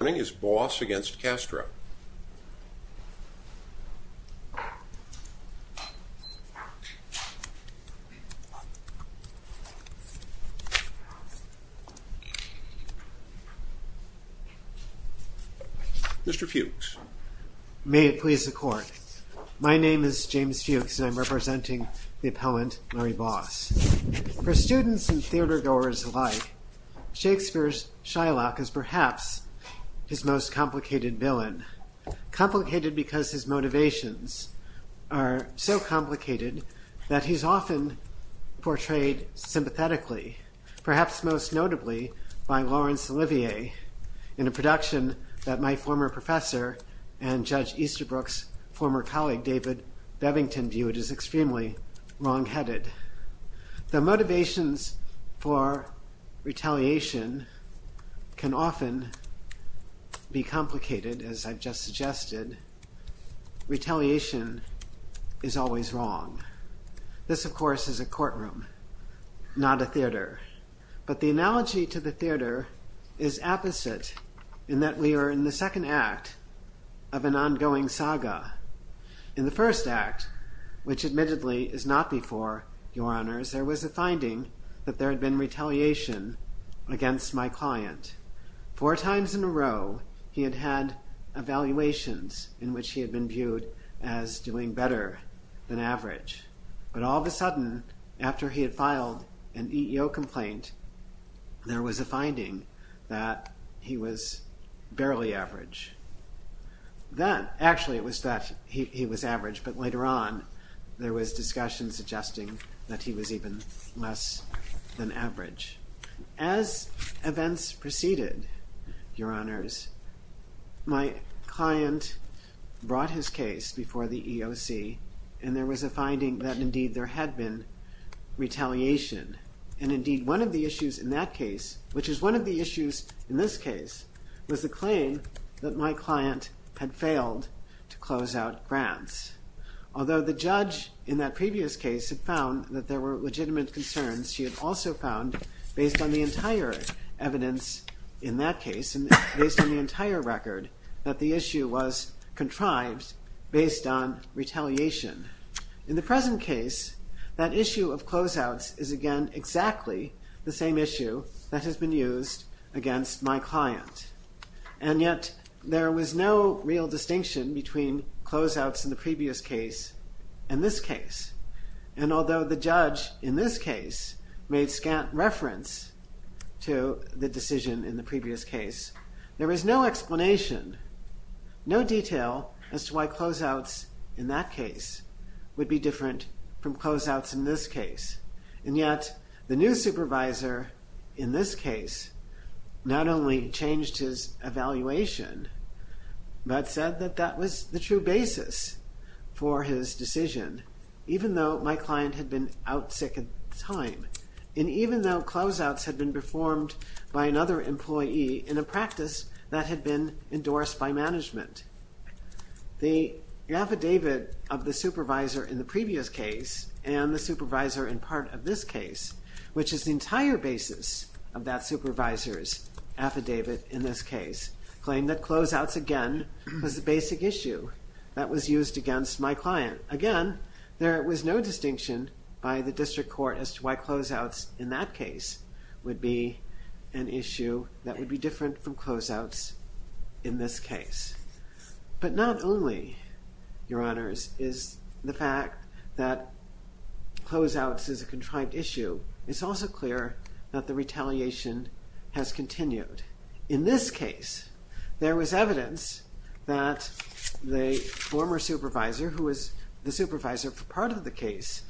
Mr. Fuchs May it please the Court. My name is James Fuchs and I am representing the appellant, his most complicated villain. Complicated because his motivations are so complicated that he's often portrayed sympathetically, perhaps most notably by Laurence Olivier in a production that my former professor and Judge Easterbrook's former colleague David Bevington viewed as extremely wrong-headed. Though motivations for retaliation can often be complicated, as I've just suggested, retaliation is always wrong. This, of course, is a courtroom, not a theater. But the analogy to the theater is apposite in that we are in the second act of an ongoing saga. In the first act, which admittedly is not before your honors, there was a finding that there had been retaliation against my client. Four times in a row, he had had evaluations in which he had been viewed as doing better than average. But all of a Then, actually it was that he was average, but later on there was discussion suggesting that he was even less than average. As events proceeded, your honors, my client brought his case before the EOC and there was a finding that indeed there had been retaliation. And indeed one of the issues in that case, which is one of the issues in this case, was the failed to close out grants. Although the judge in that previous case had found that there were legitimate concerns, she had also found, based on the entire evidence in that case and based on the entire record, that the issue was contrived based on retaliation. In the present case, that issue of closeouts is again exactly the same issue that has been used against my client. And yet, there was no real distinction between closeouts in the previous case and this case. And although the judge in this case made scant reference to the decision in the previous case, there is no explanation, no detail as to why closeouts in that case would be different from closeouts in this case. And yet, the new supervisor in this case not only changed his evaluation, but said that that was the true basis for his decision, even though my client had been out sick at the time. And even though closeouts had been performed by another employee in a practice that had been endorsed by management, the affidavit of the supervisor in the previous case and the supervisor in part of this case, which is the entire basis of that supervisor's affidavit in this case, claimed that closeouts again was the basic issue that was used against my client. Again, there was no distinction by the district court as to why closeouts in that case would be an issue that would be different from closeouts in this case. But not only, Your Honors, is the fact that it's also clear that the retaliation has continued. In this case, there was evidence that the former supervisor, who was the supervisor for part of the case,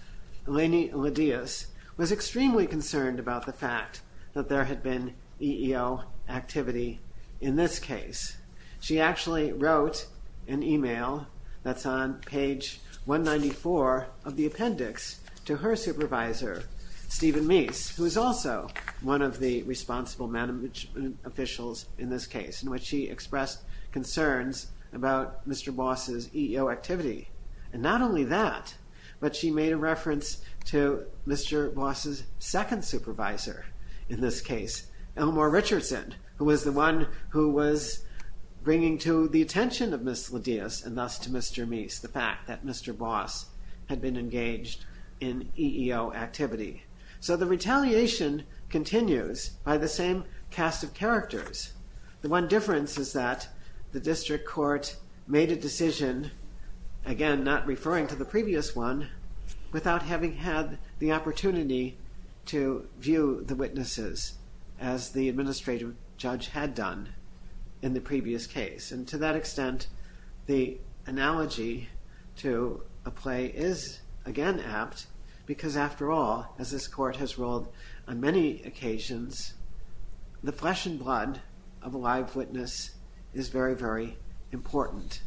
Eleni Lidias, was extremely concerned about the fact that there had been EEO activity in this case. She actually wrote an email that's on page 194 of the appendix to her supervisor, Stephen Meese, who is also one of the responsible management officials in this case, in which she expressed concerns about Mr. Boss's EEO activity. And not only that, but she made a reference to Mr. Boss's second supervisor in this case, Elmore Richardson, who was the one who was bringing to the attention of Ms. Lidias, and thus to Mr. Meese, the fact that Mr. Boss had been engaged in EEO activity. So the retaliation continues by the same cast of characters. The one difference is that the district court made a decision, again not referring to the previous one, without having had the opportunity to view the witnesses as the administrative judge had done in the past. The analogy to a play is again apt, because after all, as this court has ruled on many occasions, the flesh and blood of a live witness is very, very important.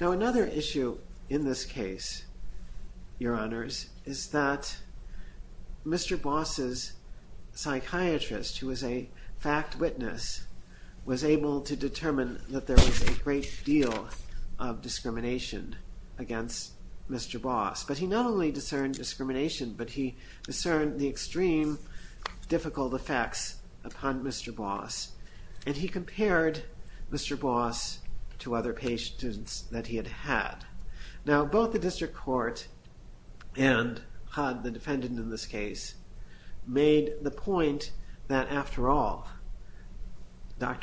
Now another issue in this case, Your Honors, is that Mr. Boss's psychiatrist, who was a fact witness, was able to determine that there was a great deal of discrimination against Mr. Boss. But he not only discerned discrimination, but he discerned the extreme difficult effects upon Mr. Boss. And he compared Mr. Boss to other patients that he had had. Now both the Dr.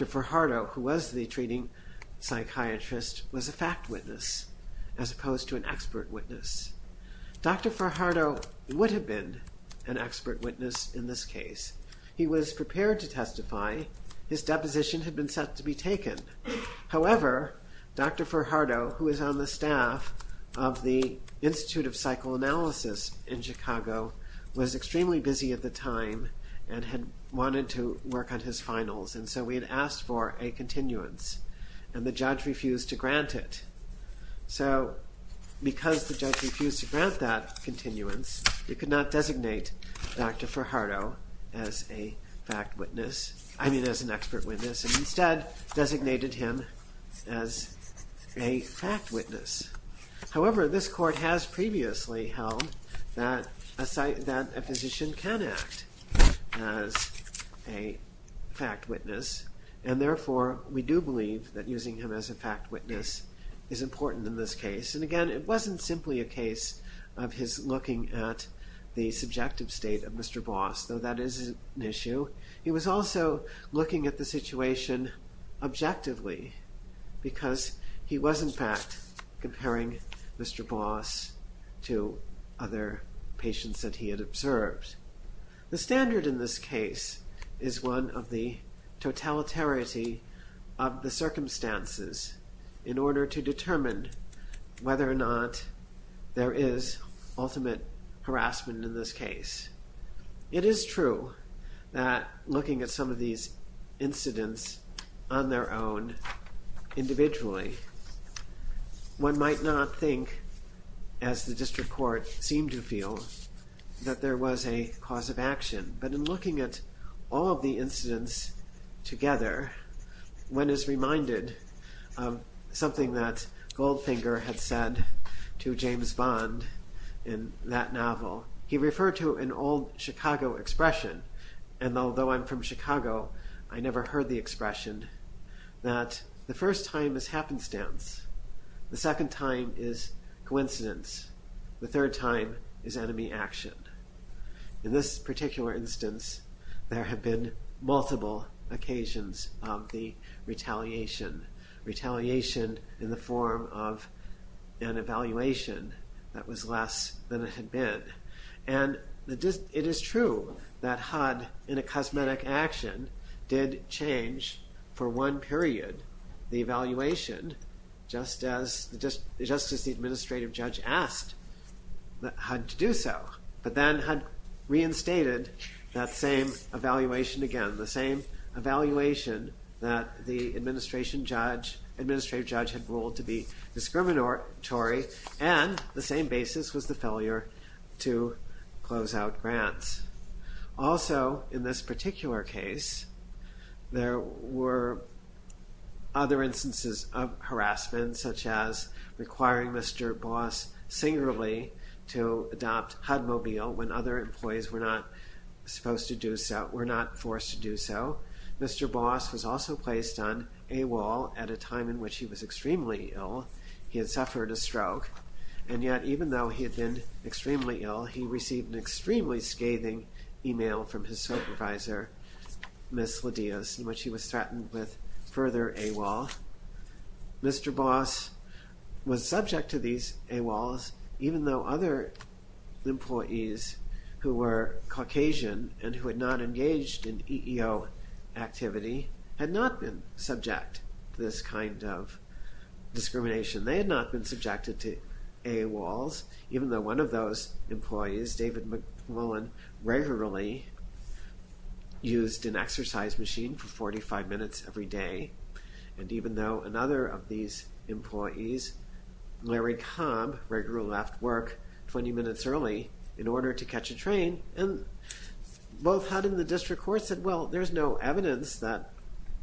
Farhardo, who was the treating psychiatrist, was a fact witness, as opposed to an expert witness. Dr. Farhardo would have been an expert witness in this case. He was prepared to testify. His deposition had been set to be taken. However, Dr. Farhardo, who is on the staff of the Institute of Psychoanalysis in Chicago, was extremely busy at the time and had wanted to work on his finals, and so we had asked for a continuance, and the judge refused to grant it. So because the judge refused to grant that continuance, we could not designate Dr. Farhardo as a fact witness, I mean as an expert witness, and instead designated him as a fact witness, and therefore we do believe that using him as a fact witness is important in this case. And again, it wasn't simply a case of his looking at the subjective state of Mr. Boss, though that is an issue. He was also looking at the situation objectively, because he was in fact comparing Mr. Boss to other patients that he had observed. The standard in this case is one of the totalitarity of the circumstances in order to determine whether or not there is ultimate harassment in this case. It is true that looking at some of these incidents on their own, individually, one might not think, as the district court seemed to feel, that there was a cause of action, but in looking at all of the incidents together, one is reminded of something that Goldfinger had said to James Bond in that novel. He referred to an old Chicago expression, and although I'm from Chicago, I never heard the expression, that the first time is happenstance, the second time is coincidence, the third time is enemy action. In this particular instance, there have been multiple occasions of the retaliation. Retaliation in the form of an evaluation that was less than it had been. And it is true that HUD, in a cosmetic action, did change for one period the evaluation, just as the administrative judge asked HUD to do so. But then HUD reinstated that same evaluation again, the same evaluation that the administrative judge had ruled to be discriminatory, and the same basis was the failure to close out grants. Also, in this particular case, there were other instances of harassment, such as requiring Mr. Boss singularly to adopt HUD Mobile when other employees were not forced to do so. Mr. Boss was also placed on AWOL at a time in which he was extremely ill. He had suffered a stroke, and yet even though he had been extremely ill, he received an extremely scathing email from his supervisor, Ms. Lidius, in which he was threatened with further AWOL. Mr. Boss was subject to these AWOLs, even though other employees who were Caucasian and who had not engaged in EEO activity had not been subject to this kind of discrimination. They had not been subjected to AWOLs, even though one of those employees, David McLuhan, regularly used an exercise machine for 45 minutes every day, and even though another of these employees, Larry Cobb, regularly left work 20 minutes early in order to catch a train, and both HUD and the district court said, well, there's no evidence that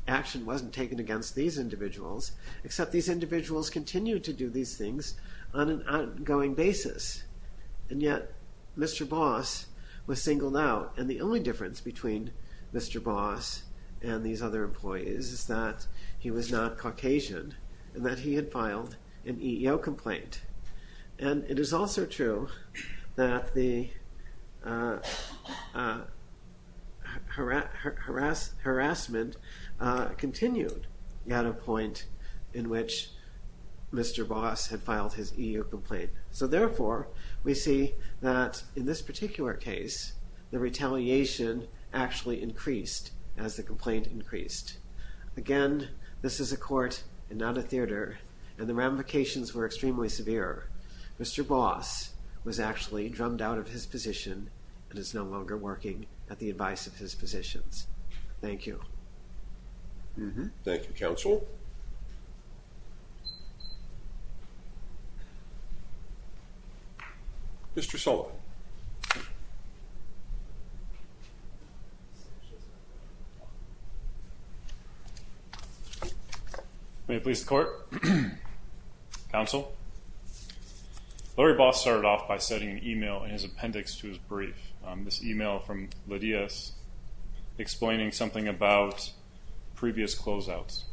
action wasn't taken against these individuals, except these individuals continue to do these things on an ongoing basis. And yet, Mr. Boss was singled out, and the only difference between Mr. Boss and these other employees is that he was not Caucasian, and that he had filed an EEO complaint. And it is also true that the harassment continued at a point in which Mr. Boss had filed his EEO complaint. So therefore, we see that in this particular case, the retaliation actually increased as the complaint increased. Again, this is a court and not a theater, and the ramifications were extremely severe. Mr. Boss was actually drummed out of his position and is no longer working at the advice of his positions. Thank you. Thank you, counsel. Mr. Sullivan. May it please the court. Counsel. Larry Boss started off by sending an email in his appendix to his brief. This email from Lydia's explaining something about previous closeouts.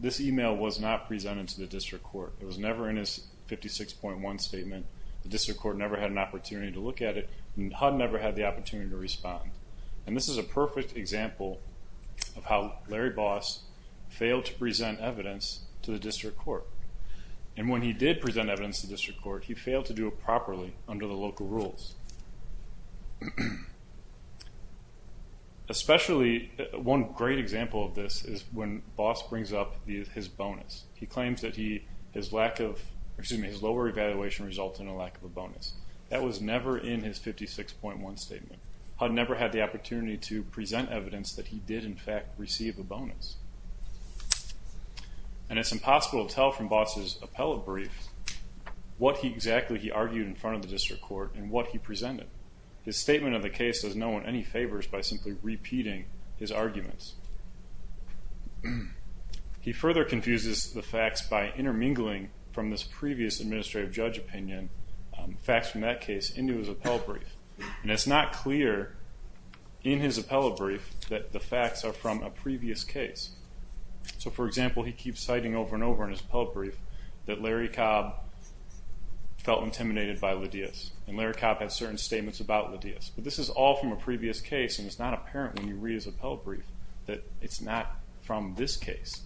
This email was not presented to the district court. It was never in his 56.1 statement. The district court never had an opportunity to look at it, and HUD never had the opportunity to respond. And this is a perfect example of how Larry Boss failed to present evidence to the district court. And when he did present evidence to the district court, he failed to do it properly under the local rules. Especially, one great example of this is when Boss brings up his bonus. He claims that his lower evaluation resulted in a lack of a bonus. That was never in his 56.1 statement. HUD never had the opportunity to present evidence that he did, in fact, receive a bonus. And it's impossible to tell from Boss' appellate brief what exactly he argued in front of the district court and what he presented. His statement of the case does no one any favors by simply repeating his arguments. He further confuses the facts by intermingling from this previous administrative judge opinion, facts from that case, into his appellate brief. And it's not clear in his appellate brief that the facts are from a previous case. So, for example, he keeps citing over and over in his appellate brief that Larry Cobb felt intimidated by Lidia's. And Larry Cobb had certain statements about Lidia's. But this is all from a previous case, and it's not apparent when you read his appellate brief that it's not from this case.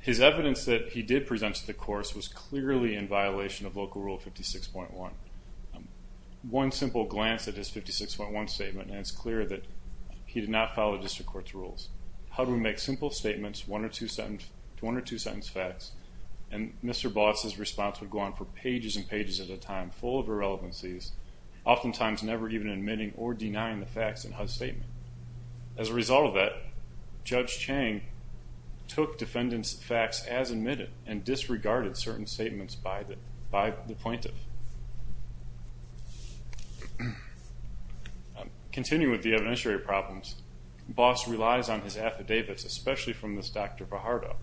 His evidence that he did present to the courts was clearly in violation of Local Rule 56.1. One simple glance at his 56.1 statement, and it's clear that he did not follow district court's rules. HUD would make simple statements, one or two sentence facts, and Mr. Boss' response would go on for pages and pages at a time, full of irrelevancies, oftentimes never even admitting or denying the facts in HUD's statement. As a result of that, Judge Chang took defendant's facts as admitted and disregarded certain statements by the plaintiff. Continuing with the evidentiary problems, Boss relies on his affidavits, especially from this Dr. Vajardo.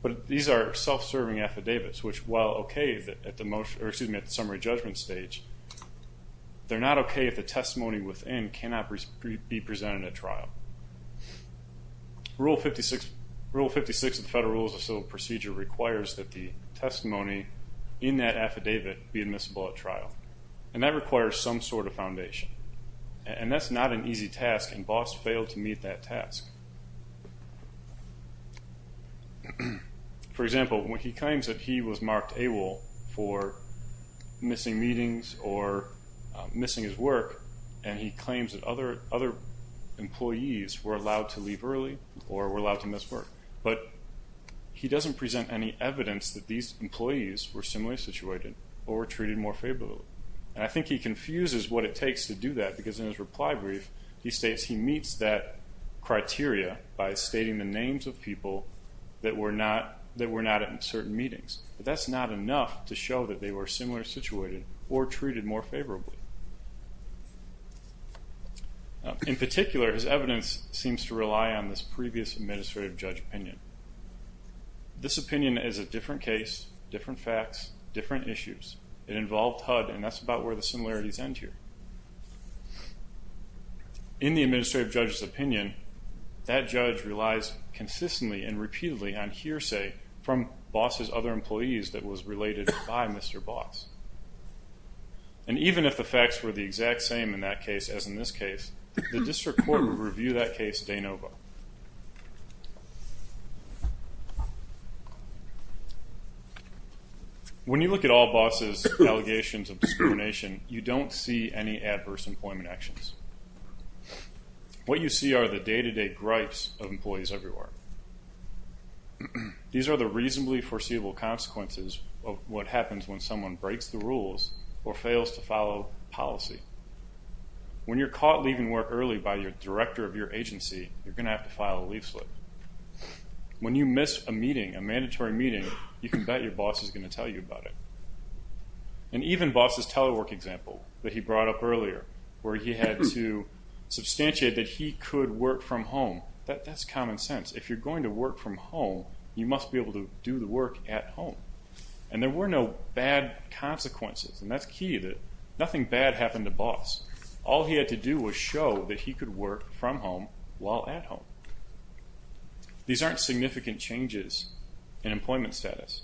But these are self-serving affidavits, which, while okay at the summary judgment stage, they're not okay if the testimony within cannot be presented at trial. Rule 56 of the Federal Rules of Civil Procedure requires that the testimony in that affidavit be admissible at trial, and that requires some sort of foundation. And that's not an easy task, and Boss failed to meet that task. For example, when he claims that he was marked AWOL for missing meetings or missing his work, and he claims that other employees were allowed to leave early or were allowed to miss work, but he doesn't present any evidence that these employees were similarly situated or were treated more favorably. And I think he confuses what it takes to do that, because in his reply brief, he states he meets that criteria by stating the names of people that were not at certain meetings. But that's not enough to show that they were similarly situated or treated more favorably. In particular, his evidence seems to rely on this previous administrative judge opinion. This opinion is a different case, different facts, different issues. It involved HUD, and that's about where the similarities end here. In the administrative judge's opinion, that judge relies consistently and repeatedly on hearsay from Boss's other employees that was related by Mr. Boss. And even if the facts were the exact same in that case as in this case, the district court would review that case de novo. When you look at all Boss's allegations of discrimination, you don't see any adverse employment actions. What you see are the day-to-day gripes of employees everywhere. These are the reasonably foreseeable consequences of what happens when someone breaks the rules or fails to follow policy. When you're caught leaving work early by your director of your agency, you're going to have to file a leaflet. When you miss a meeting, a mandatory meeting, you can bet your boss is going to tell you about it. And even Boss's telework example that he brought up earlier, where he had to substantiate that he could work from home, that's common sense. If you're going to work from home, you must be able to do the work at home. And there were no bad consequences, and that's key, that nothing bad happened to Boss. All he had to do was show that he could work from home while at home. These aren't significant changes in employment status.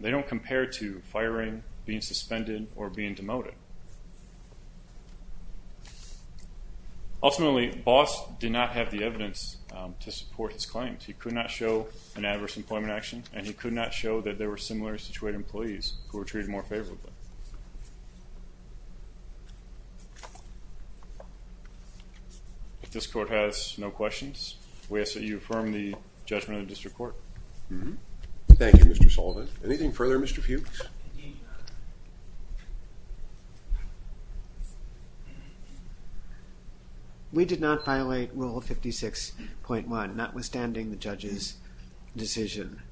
They don't compare to firing, being suspended, or being demoted. Ultimately, Boss did not have the evidence to support his claims. He could not show an adverse employment action, and he could not show that there were similarly situated employees who were treated more favorably. If this Court has no questions, we ask that you affirm the judgment of the District Court. Thank you, Mr. Sullivan. Anything further, Mr. Fuchs? We did not violate Rule 56.1, notwithstanding the judge's decision.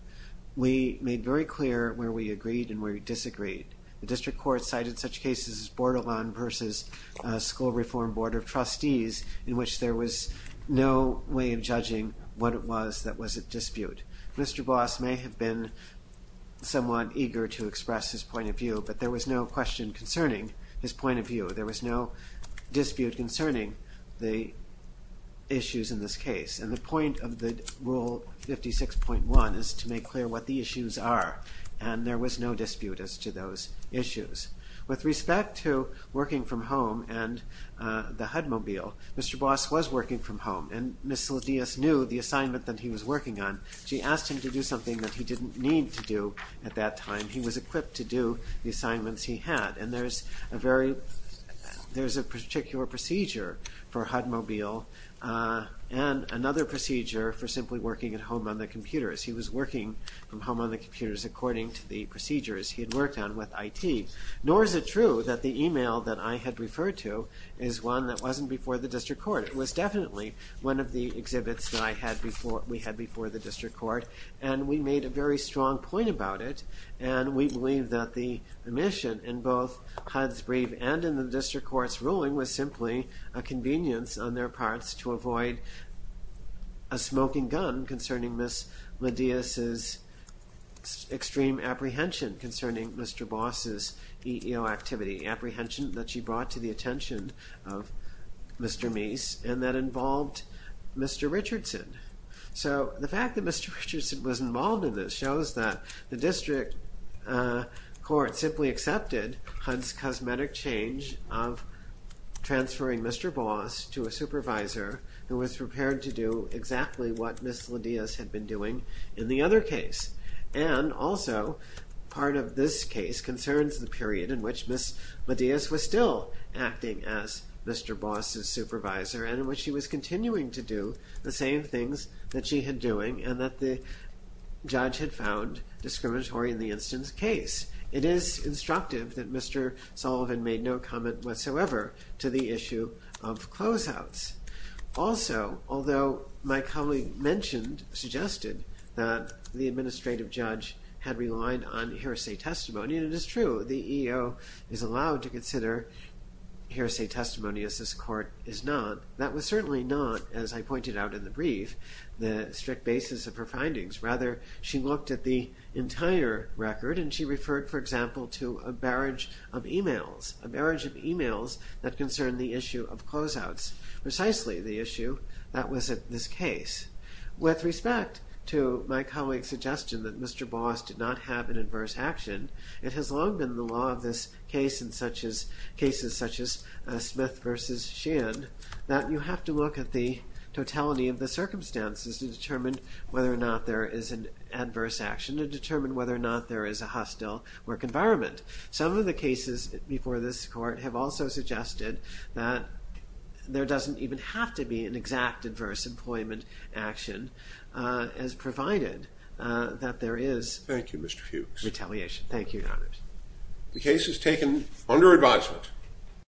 We made very clear where we agreed and where we disagreed. The District Court cited such cases as Bordelon v. School Reform Board of Trustees, in which there was no way of judging what it was that was at dispute. Mr. Boss may have been somewhat eager to express his point of view, but there was no question concerning his point of view. There was no dispute concerning the issues in this case, and the point of the Rule 56.1 is to make clear what the issues are, and there was no dispute as to those issues. With respect to working from home and the HUD mobile, Mr. Boss was working from home, and Ms. Saladias knew the assignment that he was working on. She asked him to do something that he didn't need to do at that time. He was equipped to do the assignments he had, and there's a particular procedure for HUD mobile and another procedure for simply working at home on the computers. He was working from home on the computers according to the procedures he had worked on with IT. Nor is it true that the email that I had referred to is one that wasn't before the District Court. It was definitely one of the exhibits that we had before the District Court, and we made a very strong point about it, and we believe that the mission in both HUD's brief and in the District Court's ruling was simply a convenience on their parts to avoid a smoking gun concerning Ms. Saladias's extreme apprehension concerning Mr. Boss's EEO activity, the apprehension that she brought to the attention of Mr. Meese, and that involved Mr. Richardson. So the fact that Mr. Richardson was involved in this shows that the District Court simply accepted HUD's cosmetic change of transferring Mr. Boss to a supervisor who was prepared to do exactly what Ms. Saladias had been doing in the other case. And also, part of this case concerns the period in which Ms. Saladias was still acting as Mr. Boss's supervisor and in which she was continuing to do the same things that she had been doing and that the judge had found discriminatory in the instance case. It is instructive that Mr. Sullivan made no comment whatsoever to the issue of closeouts. Also, although my colleague suggested that the administrative judge had relied on hearsay testimony, and it is true, the EEO is allowed to consider hearsay testimony, as this Court is not. That was certainly not, as I pointed out in the brief, the strict basis of her findings. Rather, she looked at the entire record, and she referred, for example, to a barrage of emails, a barrage of emails that concerned the issue of closeouts. Precisely the issue that was at this case. With respect to my colleague's suggestion that Mr. Boss did not have an adverse action, it has long been the law of this case and cases such as Smith v. Sheehan that you have to look at the totality of the circumstances to determine whether or not there is an adverse action and determine whether or not there is a hostile work environment. Some of the cases before this Court have also suggested that there doesn't even have to be an exact adverse employment action, as provided that there is retaliation. Thank you, Mr. Fuchs. Thank you, Your Honors. The case is taken under advisement.